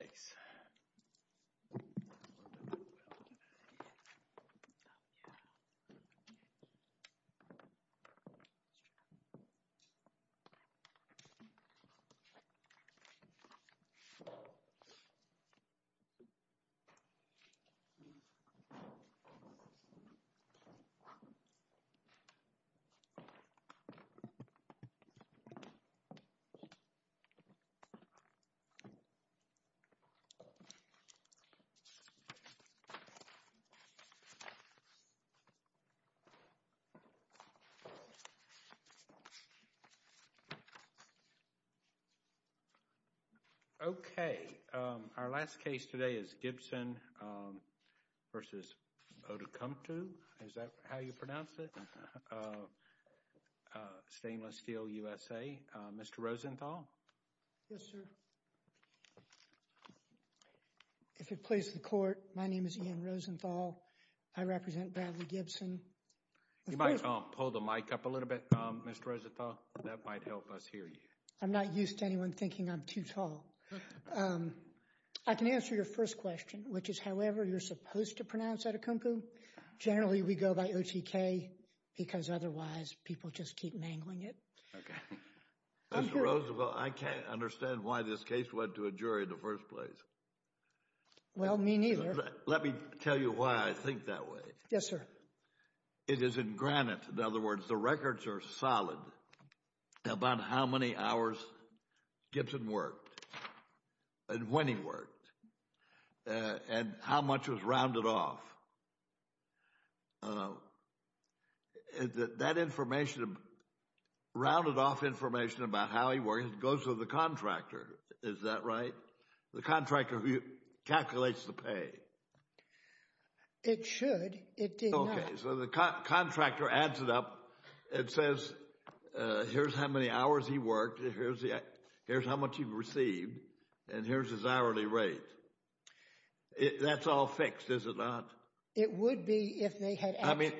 Thanks. Okay. Our last case today is Gibson v. Outokumpu. Is that how you pronounce it? Stainless Steel USA. Mr. Rosenthal? Yes, sir. If it pleases the Court, my name is Ian Rosenthal. I represent Bradley-Gibson. You might pull the mic up a little bit, Mr. Rosenthal, that might help us hear you. I'm not used to anyone thinking I'm too tall. I can answer your first question, which is however you're supposed to pronounce Outokumpu. Generally we go by O-T-K because otherwise people just keep mangling it. Okay. Mr. Rosenthal, I can't understand why this case went to a jury in the first place. Well, me neither. Let me tell you why I think that way. Yes, sir. It is in granite. In other words, the records are solid about how many hours Gibson worked and when he worked and how much was rounded off. That information, rounded off information about how he worked, goes to the contractor. Is that right? The contractor calculates the pay. It should. It did not. Okay, so the contractor adds it up and says here's how many hours he worked, here's how much he received, and here's his hourly rate. That's all fixed, is it not? It would be if they had... I mean...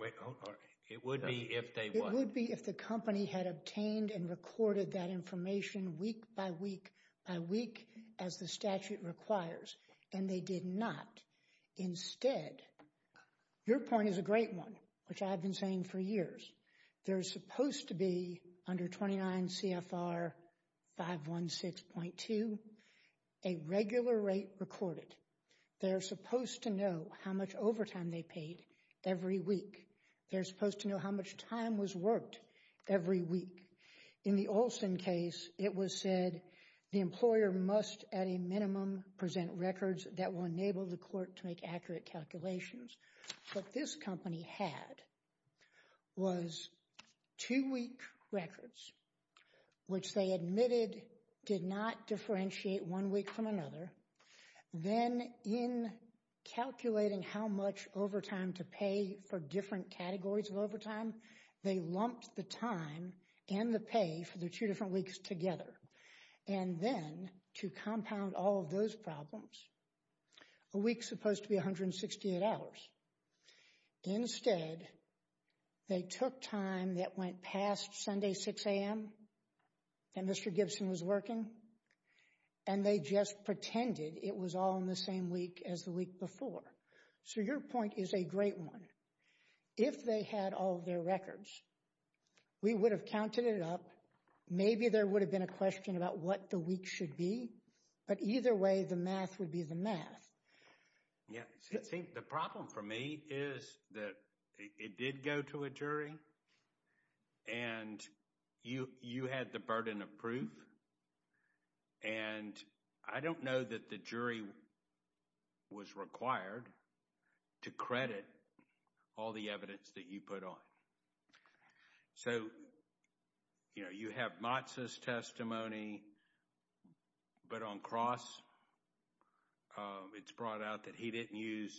Wait, hold on. It would be if they... It would be if the company had obtained and recorded that information week by week by week as the statute requires, and they did not. Instead, your point is a great one, which I've been saying for years. They're supposed to be, under 29 CFR 516.2, a regular rate recorded. They're supposed to know how much overtime they paid every week. They're supposed to know how much time was worked every week. In the Olson case, it was said the employer must, at a minimum, present records that will enable the court to make accurate calculations. What this company had was two-week records, which they admitted did not differentiate one week from another. Then in calculating how much overtime to pay for different categories of overtime, they lumped the time and the pay for the two different weeks together. Then, to compound all of those problems, a week's supposed to be 168 hours. Instead, they took time that went past Sunday 6 a.m. and Mr. Gibson was working, and they just pretended it was all in the same week as the week before. Your point is a great one. If they had all of their records, we would have counted it up. Maybe there would have been a question about what the week should be, but either way, the math would be the math. Yeah. See, the problem for me is that it did go to a jury, and you had the burden of proof, and I don't know that the jury was required to credit all the evidence that you put on. So, you know, you have Matzah's testimony, but on Cross, it's brought out that he didn't use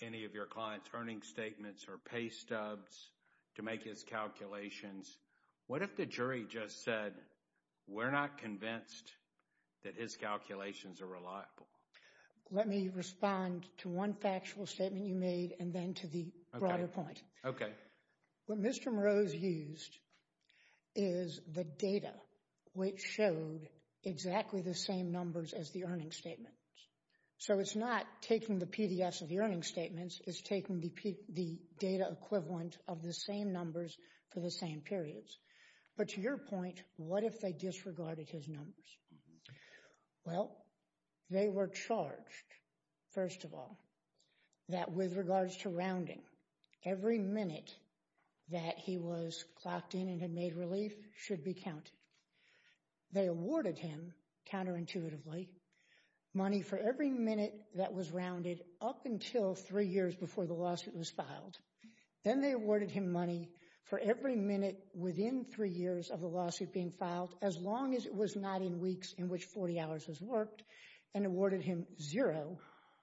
any of your client's earnings statements or pay stubs to make his calculations. What if the jury just said, we're not convinced that his calculations are reliable? Let me respond to one factual statement you made, and then to the broader point. Okay. What Mr. Moroz used is the data which showed exactly the same numbers as the earnings statements. So it's not taking the PDFs of the earnings statements, it's taking the data equivalent of the same numbers for the same periods. But to your point, what if they disregarded his numbers? Well, they were charged, first of all, that with regards to rounding, every minute that he was clocked in and had made relief should be counted. They awarded him, counterintuitively, money for every minute that was rounded up until three years before the lawsuit was filed. Then they awarded him money for every minute within three years of the lawsuit being filed, as long as it was not in weeks in which 40 hours was worked, and awarded him zero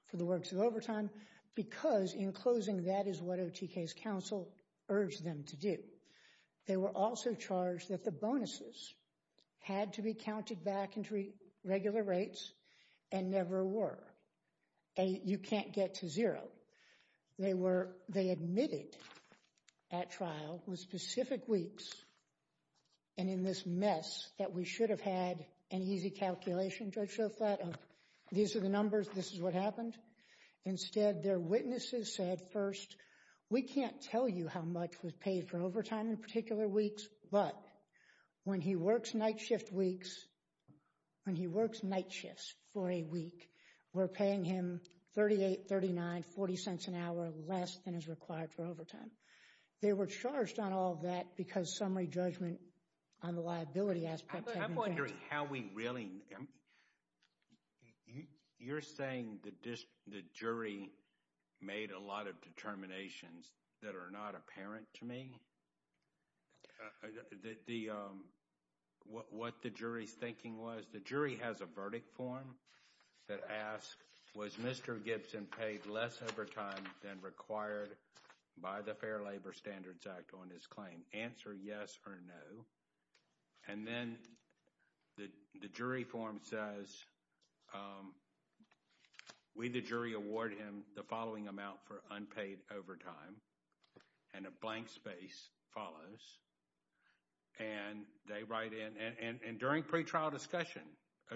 for the works overtime, because in closing, that is what OTK's counsel urged them to do. They were also charged that the bonuses had to be counted back into regular rates and never were. You can't get to zero. They were, they admitted at trial with specific weeks and in this mess that we should have had an easy calculation, Judge Shoflat, of these are the numbers, this is what happened. Instead, their witnesses said, first, we can't tell you how much was paid for overtime in particular weeks, but when he works night shift weeks, when he works night shifts for a week, we're paying him $.38, $.39, $.40 an hour less than is required for overtime. They were charged on all of that because summary judgment on the liability aspects hadn't been done. I'm wondering how we really, you're saying the jury made a lot of determinations that are not apparent to me? What the jury's thinking was, the jury has a verdict form that asks, was Mr. Gibson paid less overtime than required by the Fair Labor Standards Act on his claim? Answer yes or no. And then the jury form says, we, the jury, award him the following amount for unpaid overtime, and a blank space follows. And they write in, and during pretrial discussion,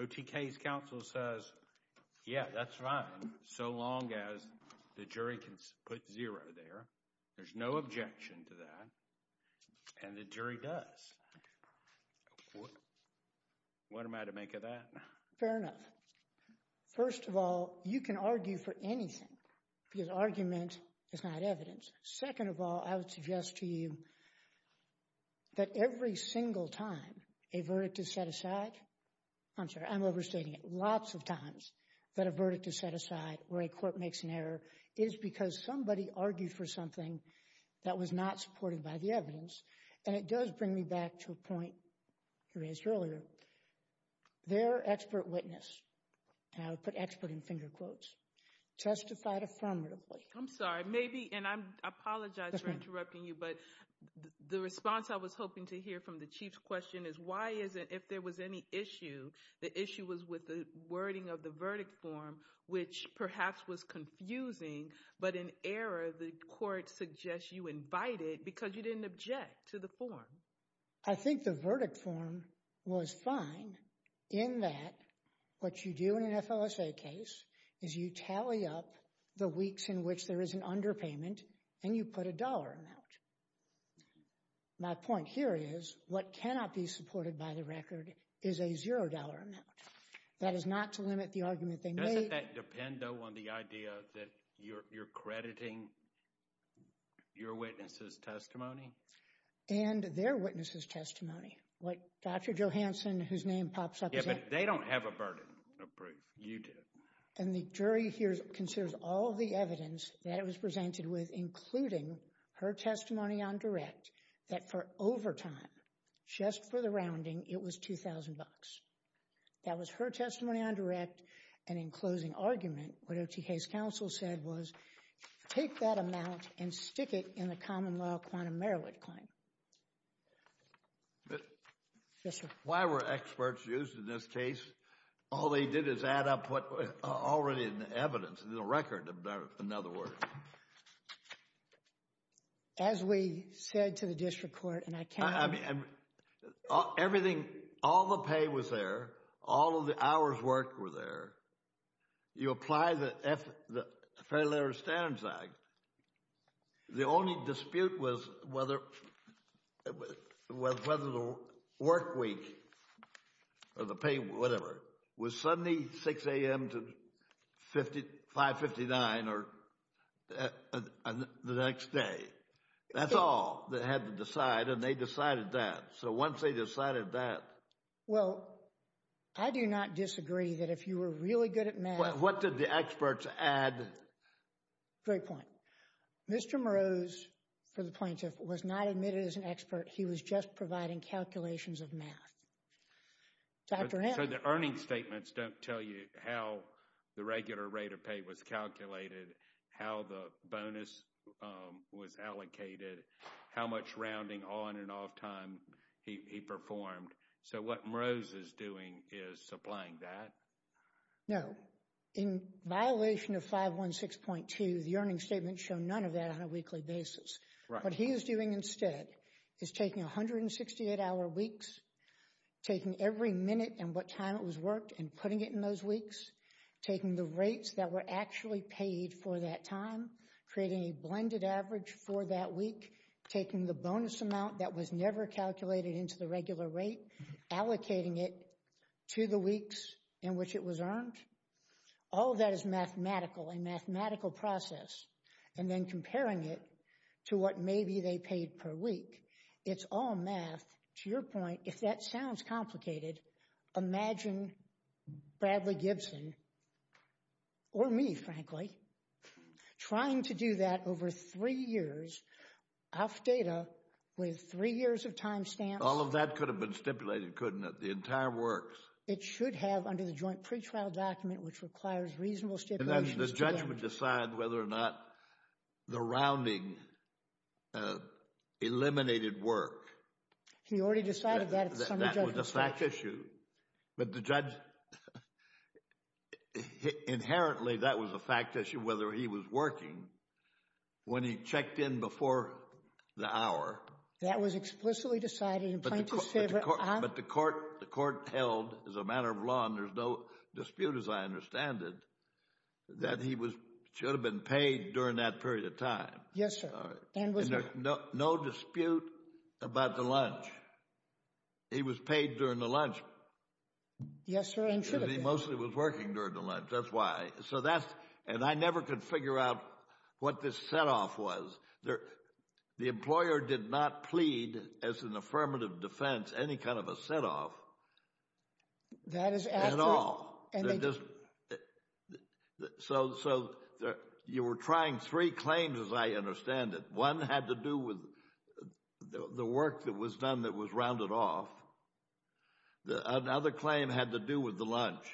OTK's counsel says, yeah, that's fine, so long as the jury can put zero there. There's no objection to that, and the jury does. What am I to make of that? Fair enough. First of all, you can argue for anything because argument is not evidence. Second of all, I would suggest to you that every single time a verdict is set aside, I'm sorry, I'm overstating it, lots of times that a verdict is set aside where a court makes an error is because somebody argued for something that was not supported by the evidence. And it does bring me back to a point you raised earlier. Their expert witness, and I would put expert in finger quotes, testified affirmatively. I'm sorry, maybe, and I apologize for interrupting you, but the response I was hoping to hear from the Chief's question is, why is it if there was any issue, the issue was with the wording of the verdict form, which perhaps was confusing, but in error, the court suggests you invited because you didn't object to the form. I think the verdict form was fine in that what you do in an FLSA case is you tally up the weeks in which there is an underpayment, and you put a dollar amount. My point here is what cannot be supported by the record is a zero dollar amount. That is not to limit the argument they made. Doesn't that depend, though, on the idea that you're crediting your witness' testimony? And their witness' testimony. What Dr. Johanson, whose name pops up, is that. Yeah, but they don't have a burden of proof. You do. And the jury here considers all the evidence that it was presented with, including her testimony on direct, that for overtime, just for the rounding, it was $2,000. That was her testimony on direct, and in closing argument, what OTK's counsel said was, take that amount and stick it in the common law quantum merit claim. Why were experts used in this case? All they did is add up what was already in the evidence, in the record, in other words. As we said to the district court, and I can't— Everything, all the pay was there, all of the hours worked were there. You apply the Fair Labor Standards Act. The only dispute was whether the work week, or the pay, whatever, was Sunday, 6 a.m. to 5.59 or the next day. That's all they had to decide, and they decided that. So once they decided that— Well, I do not disagree that if you were really good at math— What did the experts add? Great point. Mr. Moreau's, for the plaintiff, was not admitted as an expert. He was just providing calculations of math. Dr. Henry. The earnings statements don't tell you how the regular rate of pay was calculated, how the bonus was allocated, how much rounding on and off time he performed. So what Moreau is doing is supplying that. No. In violation of 516.2, the earnings statements show none of that on a weekly basis. What he is doing instead is taking 168-hour weeks, taking every minute and what time it was worked and putting it in those weeks, taking the rates that were actually paid for that time, creating a blended average for that week, taking the bonus amount that was never calculated into the regular rate, allocating it to the weeks in which it was earned. All of that is mathematical, a mathematical process, and then comparing it to what maybe they paid per week. It's all math. To your point, if that sounds complicated, imagine Bradley Gibson, or me, frankly, trying to do that over three years off data with three years of time stamps. All of that could have been stipulated, couldn't it? The entire works. It should have under the joint pretrial document, which requires reasonable stipulations. The judgment decides whether or not the rounding eliminated work. He already decided that. That was a fact issue. But the judge, inherently, that was a fact issue whether he was working when he checked in before the hour. That was explicitly decided in plaintiff's favor. But the court held, as a matter of law, and there's no dispute as I understand it, that he should have been paid during that period of time. Yes, sir. And there's no dispute about the lunch. He was paid during the lunch. Yes, sir, and should have been. He mostly was working during the lunch. That's why. So that's, and I never could figure out what this setoff was. The employer did not plead, as an affirmative defense, any kind of a setoff at all. They just, so you were trying three claims, as I understand it. One had to do with the work that was done that was rounded off. Another claim had to do with the lunch.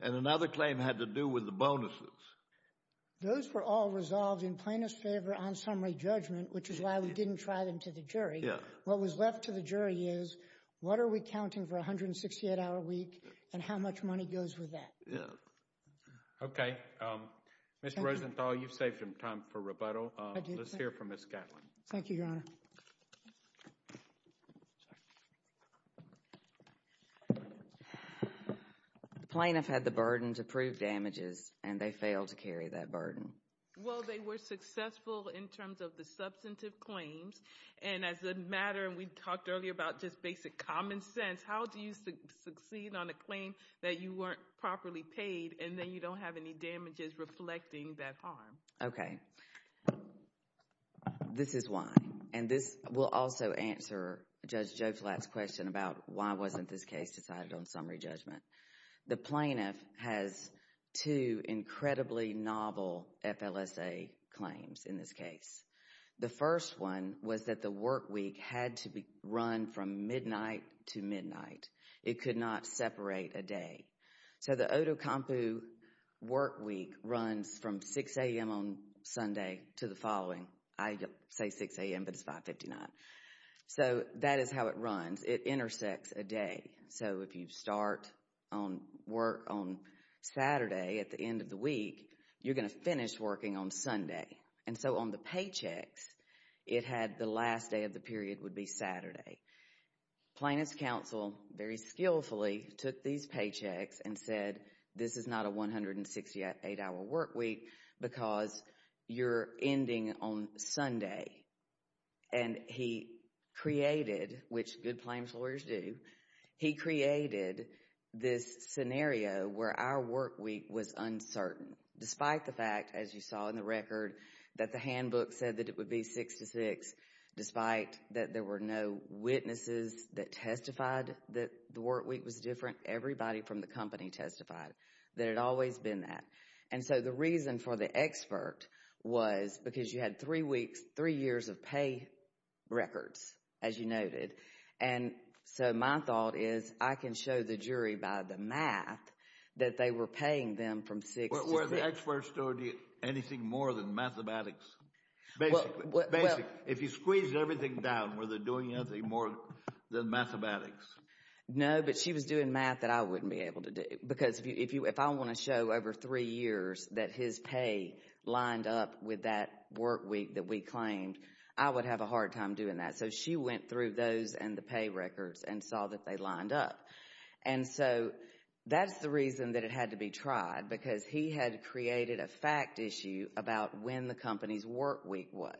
And another claim had to do with the bonuses. Those were all resolved in plaintiff's favor on summary judgment, which is why we didn't try them to the jury. What was left to the jury is, what are we counting for a 168-hour week and how much money goes with that? Okay, Mr. Rosenthal, you've saved some time for rebuttal. Let's hear from Ms. Gatlin. Thank you, Your Honor. The plaintiff had the burden to prove damages and they failed to carry that burden. Well, they were successful in terms of the substantive claims. And as a matter, and we talked earlier about just basic common sense, how do you succeed on a claim that you weren't properly paid and then you don't have any damages reflecting that harm? Okay, this is why. And this will also answer Judge Joe Flatt's question about why wasn't this case decided on summary judgment. The plaintiff has two incredibly novel FLSA claims in this case. The first one was that the work week had to be run from midnight to midnight. It could not separate a day. So, the Otokampu work week runs from 6 a.m. on Sunday to the following. I say 6 a.m., but it's 5.59. So, that is how it runs. It intersects a day. So, if you start on work on Saturday at the end of the week, you're going to finish working on Sunday. And so, on the paychecks, it had the last day of the period would be Saturday. Plaintiff's counsel, very skillfully, took these paychecks and said, this is not a 168-hour work week because you're ending on Sunday. And he created, which good claims lawyers do, he created this scenario where our work week was uncertain. Despite the fact, as you saw in the record, that the handbook said that it would be 6 to 6. Despite that there were no witnesses that testified that the work week was different, everybody from the company testified that it had always been that. And so, the reason for the expert was because you had three weeks, three years of pay records, as you noted. And so, my thought is I can show the jury by the math that they were paying them from 6 to 6. Were the experts doing anything more than mathematics? Basically, if you squeeze everything down, were they doing anything more than mathematics? No, but she was doing math that I wouldn't be able to do. Because if you, if I want to show over three years that his pay lined up with that work week that we claimed, I would have a hard time doing that. So, she went through those and the pay records and saw that they lined up. And so, that's the reason that it had to be tried, because he had created a fact issue about when the company's work week was.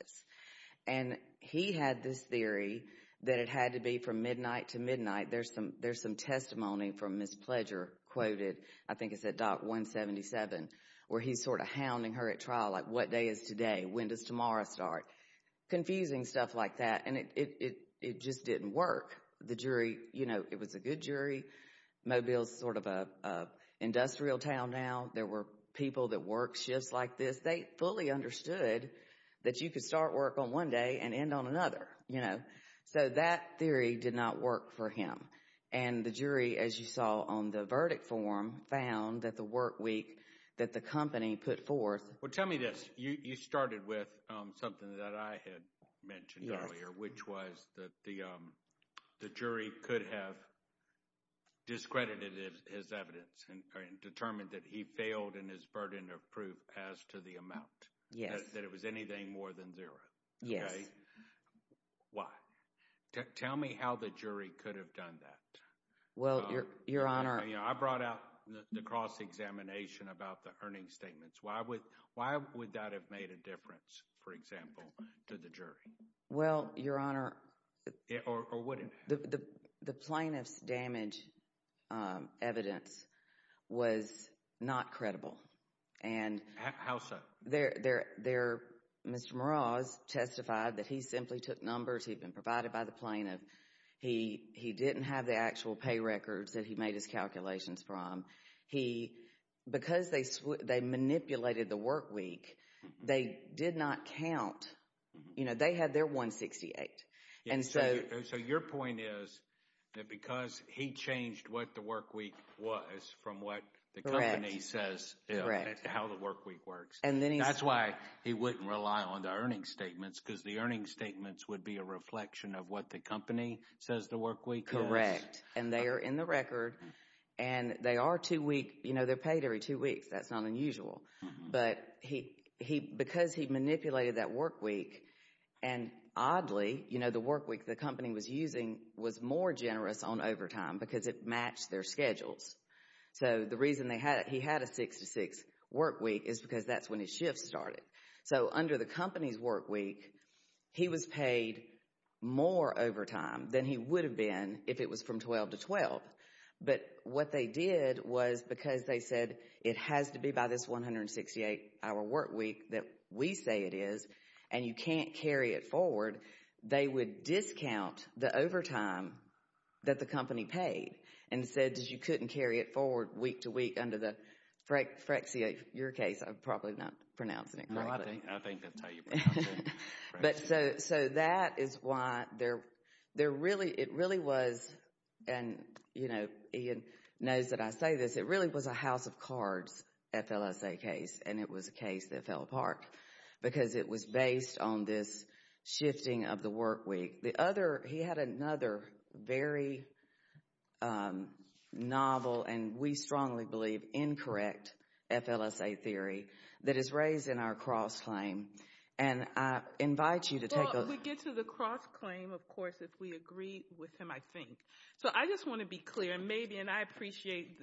And he had this theory that it had to be from midnight to midnight. There's some, there's some testimony from Ms. Pledger quoted, I think it's at Doc 177, where he's sort of hounding her at trial, like what day is today? When does tomorrow start? Confusing stuff like that, and it just didn't work. The jury, you know, it was a good jury. Mobile's sort of a industrial town now. There were people that work shifts like this. They fully understood that you could start work on one day and end on another, you know. So, that theory did not work for him. And the jury, as you saw on the verdict form, found that the work week that the company put forth. Well, tell me this, you started with something that I had mentioned earlier, which was that the jury could have discredited his evidence and determined that he failed in his burden of proof as to the amount. Yes. That it was anything more than zero. Yes. Why? Tell me how the jury could have done that. Well, Your Honor. I brought out the cross-examination about the earnings statements. Why would that have made a difference, for example, to the jury? Well, Your Honor. Or would it? The plaintiff's damage evidence was not credible. How so? Mr. Meraz testified that he simply took numbers. He'd been provided by the plaintiff. He didn't have the actual pay records that he made his calculations from. Because they manipulated the work week, they did not count. You know, they had their 168. So your point is that because he changed what the work week was from what the company says, how the work week works, that's why he wouldn't rely on the earnings statements, because the earnings statements would be a reflection of what the company says the work week is. Correct. And they are in the record. And they are paid every two weeks. That's not unusual. But because he manipulated that work week, and oddly, you know, the work week the company was using was more generous on overtime because it matched their schedules. So the reason he had a 6 to 6 work week is because that's when his shift started. So under the company's work week, he was paid more overtime than he would have been if it was from 12 to 12. But what they did was because they said it has to be by this 168 hour work week that we say it is, and you can't carry it forward, they would discount the overtime that the company paid and said that you couldn't carry it forward week to week under the Freccia, your case, I'm probably not pronouncing it correctly. I think that's how you pronounce it. But so that is why there really, it really was, and you know, Ian knows that I say this, it really was a house of cards FLSA case. And it was a case that fell apart because it was based on this shifting of the work week. The other, he had another very novel and we strongly believe incorrect FLSA theory that is raised in our cross claim. And I invite you to take a look. We get to the cross claim, of course, if we agree with him, I think. So I just want to be clear, maybe, and I appreciate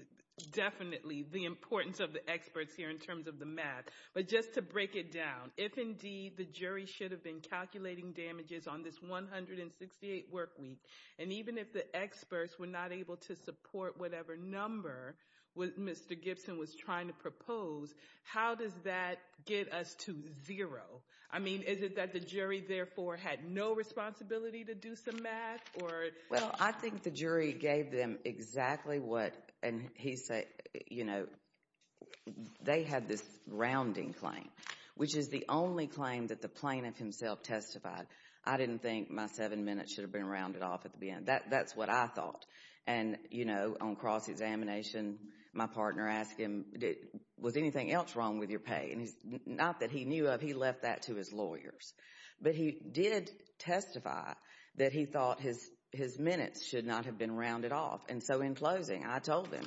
definitely the importance of the experts here in terms of the math. But just to break it down, if indeed the jury should have been calculating damages on this 168 work week, and even if the experts were not able to support whatever number Mr. Gibson was trying to propose, how does that get us to zero? I mean, is it that the jury therefore had no responsibility to do some math or? Well, I think the jury gave them exactly what, and he said, you know, they had this rounding claim, which is the only claim that the plaintiff himself testified. I didn't think my seven minutes should have been rounded off at the end. That's what I thought. And, you know, on cross examination, my partner asked him, was anything else wrong with your pay? And not that he knew of, he left that to his lawyers. But he did testify that he thought his minutes should not have been rounded off. And so in closing, I told him,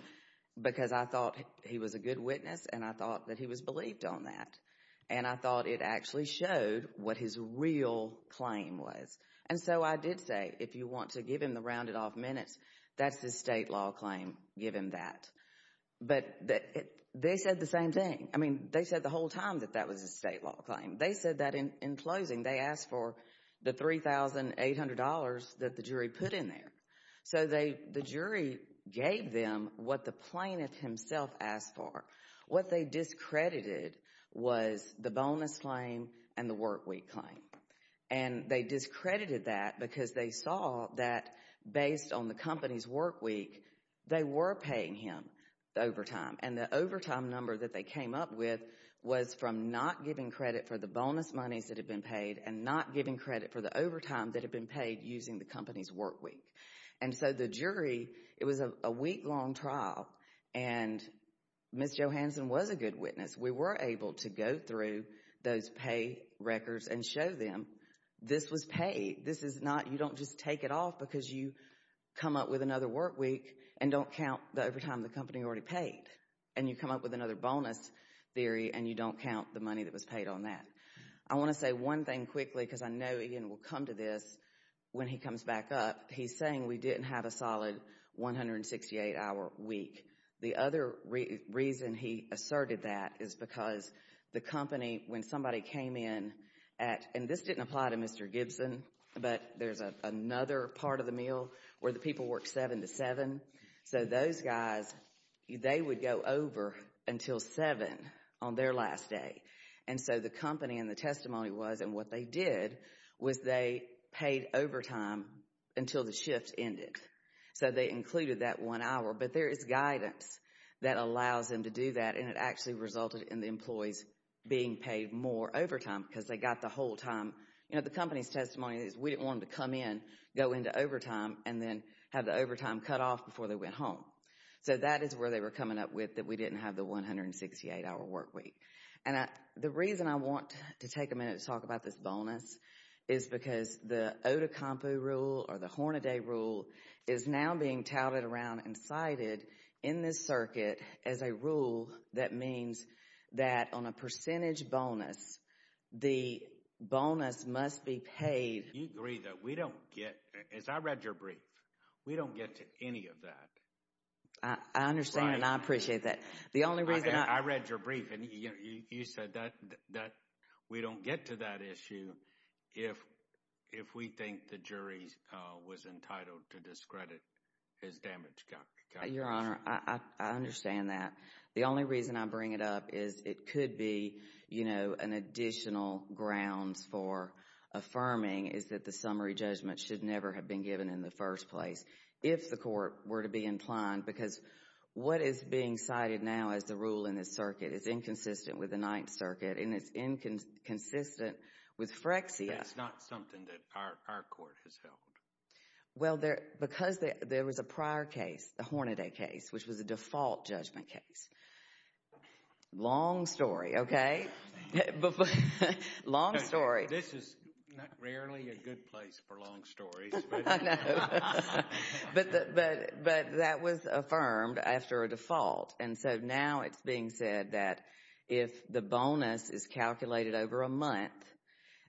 because I thought he was a good witness, and I thought that he was believed on that. And I thought it actually showed what his real claim was. And so I did say, if you want to give him the rounded off minutes, that's the state law claim, give him that. But they said the same thing. I mean, they said the whole time that that was a state law claim. They said that in closing, they asked for the $3,800 that the jury put in there. So the jury gave them what the plaintiff himself asked for. What they discredited was the bonus claim and the workweek claim. And they discredited that because they saw that based on the company's workweek, they were paying him the overtime. And the overtime number that they came up with was from not giving credit for the bonus monies that had been paid and not giving credit for the overtime that had been paid using the company's workweek. And so the jury, it was a week-long trial. And Ms. Johansson was a good witness. We were able to go through those pay records and show them this was paid. This is not, you don't just take it off because you come up with another workweek and don't count the overtime the company already paid. And you come up with another bonus theory and you don't count the money that was paid on that. I want to say one thing quickly because I know Ian will come to this when he comes back up. He's saying we didn't have a solid 168-hour week. The other reason he asserted that is because the company, when somebody came in at, and this didn't apply to Mr. Gibson, but there's another part of the meal where the people worked seven to seven. So those guys, they would go over until seven on their last day. And so the company and the testimony was, and what they did, was they paid overtime until the shift ended. So they included that one hour. But there is guidance that allows them to do that. And it actually resulted in the employees being paid more overtime because they got the whole time. You know, the company's testimony is we didn't want them to come in, go into overtime, and then have the overtime cut off before they went home. So that is where they were coming up with that we didn't have the 168-hour workweek. And the reason I want to take a minute to talk about this bonus is because the Otacompo rule or the Hornaday rule is now being touted around and cited in this circuit as a rule that means that on a percentage bonus, the bonus must be paid. You agree that we don't get, as I read your brief, we don't get to any of that. I understand and I appreciate that. The only reason I read your brief and you said that we don't get to that issue. If we think the jury was entitled to discredit his damage calculation. Your Honor, I understand that. The only reason I bring it up is it could be, you know, an additional grounds for affirming is that the summary judgment should never have been given in the first place. If the court were to be inclined, because what is being cited now as the rule in this circuit is inconsistent with the Ninth Circuit. And it's inconsistent with Frexia. It's not something that our court has held. Well, because there was a prior case, the Hornaday case, which was a default judgment case. Long story, okay. Long story. This is rarely a good place for long stories. But that was affirmed after a default. And so now it's being said that if the bonus is calculated over a month,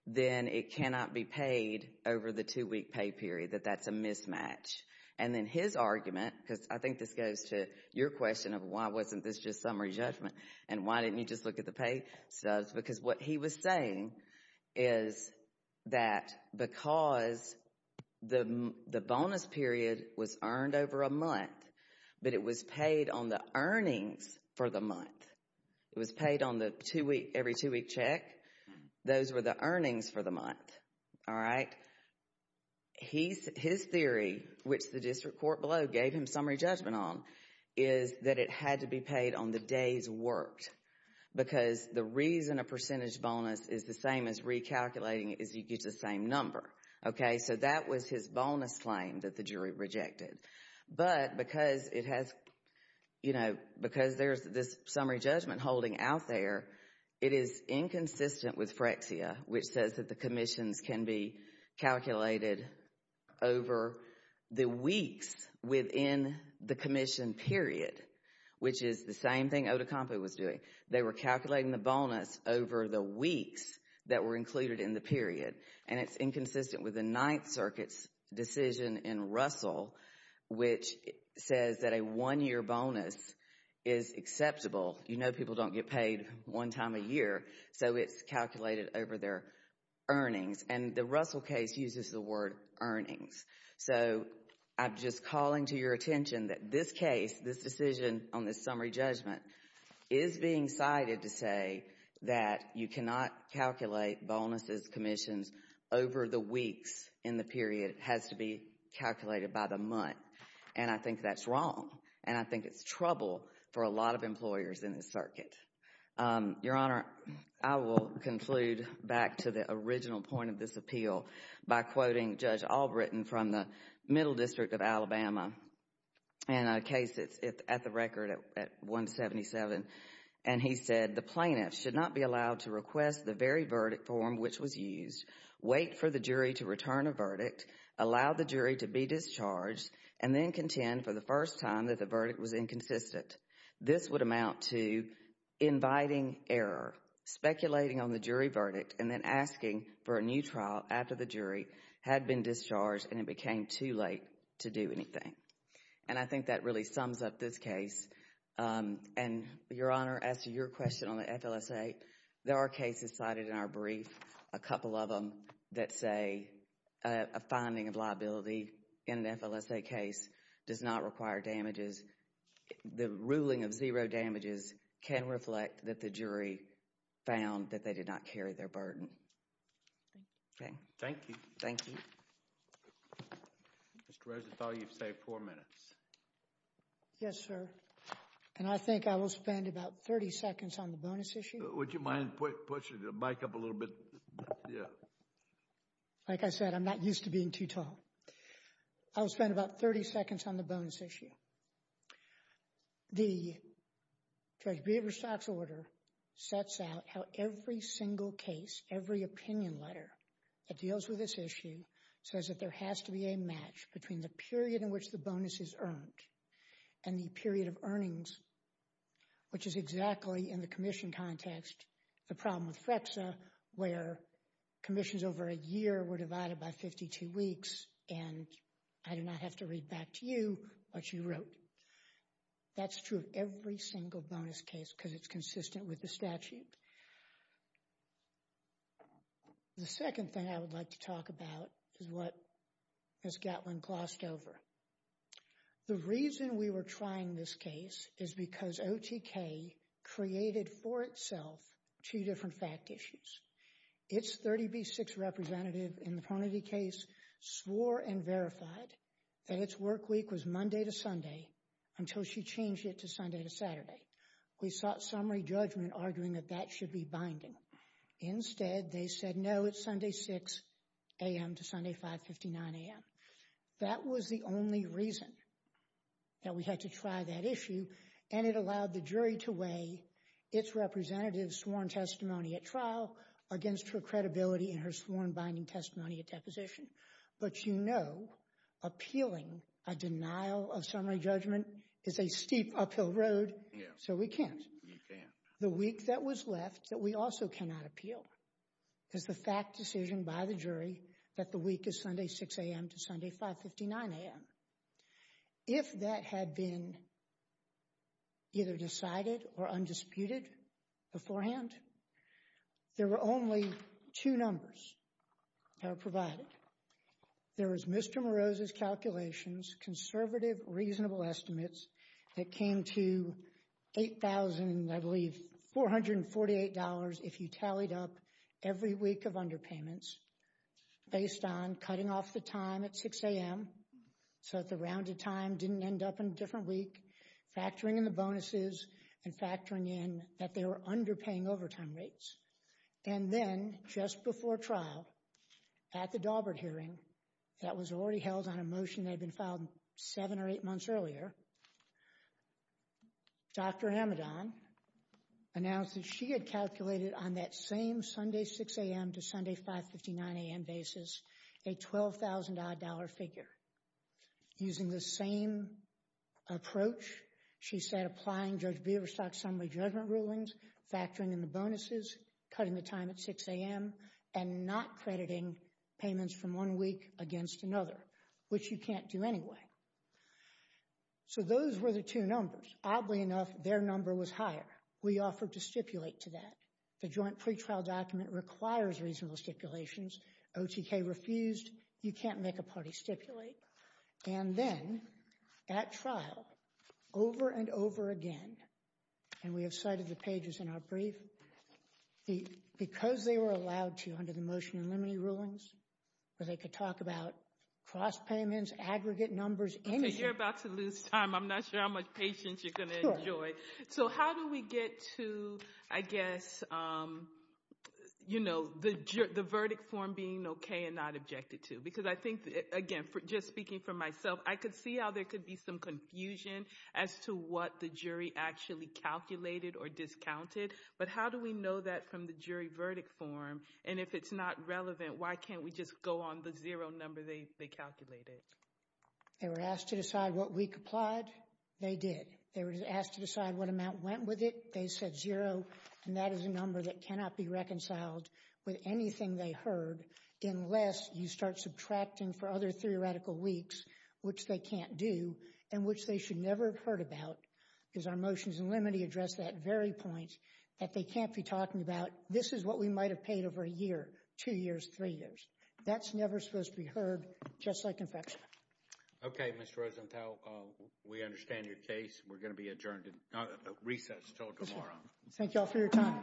then it cannot be paid over the two-week pay period. That that's a mismatch. And then his argument, because I think this goes to your question of why wasn't this just summary judgment? And why didn't you just look at the pay subs? Because what he was saying is that because the bonus period was earned over a month, but it was paid on the earnings for the month. It was paid on the two-week, every two-week check. Those were the earnings for the month. All right. His theory, which the district court below gave him summary judgment on, is that it had to be paid on the days worked. Because the reason a percentage bonus is the same as recalculating is you get the same number. Okay, so that was his bonus claim that the jury rejected. But because it has, you know, because there's this summary judgment holding out there, it is inconsistent with Frexia, which says that the commissions can be calculated over the weeks within the commission period, which is the same thing Otacompo was doing. They were calculating the bonus over the weeks that were included in the period. And it's inconsistent with the Ninth Circuit's decision in Russell which says that a one-year bonus is acceptable. You know people don't get paid one time a year, so it's calculated over their earnings. And the Russell case uses the word earnings. So I'm just calling to your attention that this case, this decision on this summary judgment, is being cited to say that you cannot calculate bonuses, commissions over the weeks in the period. It has to be calculated by the month. And I think that's wrong. And I think it's trouble for a lot of employers in this circuit. Your Honor, I will conclude back to the original point of this appeal by quoting Judge Albritton from the Middle District of Alabama, and a case that's at the record at 177. And he said, the plaintiff should not be allowed to request the very verdict form which was used, wait for the jury to return a verdict, allow the jury to be discharged, and then contend for the first time that the verdict was inconsistent. This would amount to inviting error, speculating on the jury verdict, and then asking for a new trial after the jury had been discharged and it became too late to do anything. And I think that really sums up this case. And Your Honor, as to your question on the FLSA, there are cases cited in our brief, a couple of them, that say a finding of liability in an FLSA case does not require damages. The ruling of zero damages can reflect that the jury found that they did not carry their burden. Okay. Thank you. Thank you. Mr. Reza, I thought you saved four minutes. Yes, sir. And I think I will spend about 30 seconds on the bonus issue. Would you mind pushing the mic up a little bit? Yeah. Like I said, I'm not used to being too tall. I'll spend about 30 seconds on the bonus issue. The Judge Bieber's tax order sets out how every single case, every opinion letter that deals with this issue, says that there has to be a match between the period in which the bonus is earned and the period of earnings, which is exactly, in the commission context, the problem with FLSA, where commissions over a year were divided by 52 weeks, and I do not have to read back to you what you wrote. That's true of every single bonus case because it's consistent with the statute. The second thing I would like to talk about is what Ms. Gatlin glossed over. The reason we were trying this case is because OTK created for itself two different fact issues. Its 30B6 representative in the Parnity case swore and verified that its work week was Monday to Sunday until she changed it to Sunday to Saturday. We sought summary judgment, arguing that that should be binding. Instead, they said, no, it's Sunday 6 a.m. to Sunday 5.59 a.m. That was the only reason that we had to try that issue, and it allowed the jury to weigh its representative's sworn testimony at trial against her credibility in her sworn binding testimony at deposition. But you know, appealing a denial of summary judgment is a steep uphill road, so we can't. The week that was left that we also cannot appeal is the fact decision by the jury that the week is Sunday 6 a.m. to Sunday 5.59 a.m. If that had been either decided or undisputed beforehand, there were only two numbers that were provided. There was Mr. Moroz's calculations, conservative, reasonable estimates that came to $8,448 if you tallied up every week of underpayments based on cutting off the time at 6 a.m. so that the rounded time didn't end up in a different week, factoring in the bonuses and factoring in that they were underpaying overtime rates. And then, just before trial, at the Daubert hearing, that was already held on a motion that had been filed seven or eight months earlier, Dr. Amidon announced that she had calculated on that same Sunday 6 a.m. to Sunday 5.59 a.m. basis a $12,000-odd figure. Using the same approach, she said applying Judge Biberstock's summary judgment rulings, factoring in the bonuses, cutting the time at 6 a.m., and not crediting payments from one week against another, which you can't do anyway. So those were the two numbers. Oddly enough, their number was higher. We offered to stipulate to that. The joint pretrial document requires reasonable stipulations. OTK refused. You can't make a party stipulate. And then, at trial, over and over again, and we have cited the pages in our brief, because they were allowed to, under the motion and limited rulings, where they could talk about cross-payments, aggregate numbers, anything. Okay, you're about to lose time. I'm not sure how much patience you're going to enjoy. Sure. So how do we get to, I guess, you know, the verdict form being okay and not objected to? Because I think, again, just speaking for myself, I could see how there could be some confusion as to what the jury actually calculated or discounted. But how do we know that from the verdict form? And if it's not relevant, why can't we just go on the zero number they calculated? They were asked to decide what week applied. They did. They were asked to decide what amount went with it. They said zero. And that is a number that cannot be reconciled with anything they heard unless you start subtracting for other theoretical weeks, which they can't do, and which they should never have heard about, because our motions and limited address that very point that they can't be talking about. This is what we might have paid over a year, two years, three years. That's never supposed to be heard, just like infection. Okay, Ms. Rosenthal, we understand your case. We're going to be adjourned, recessed until tomorrow. Thank you all for your time.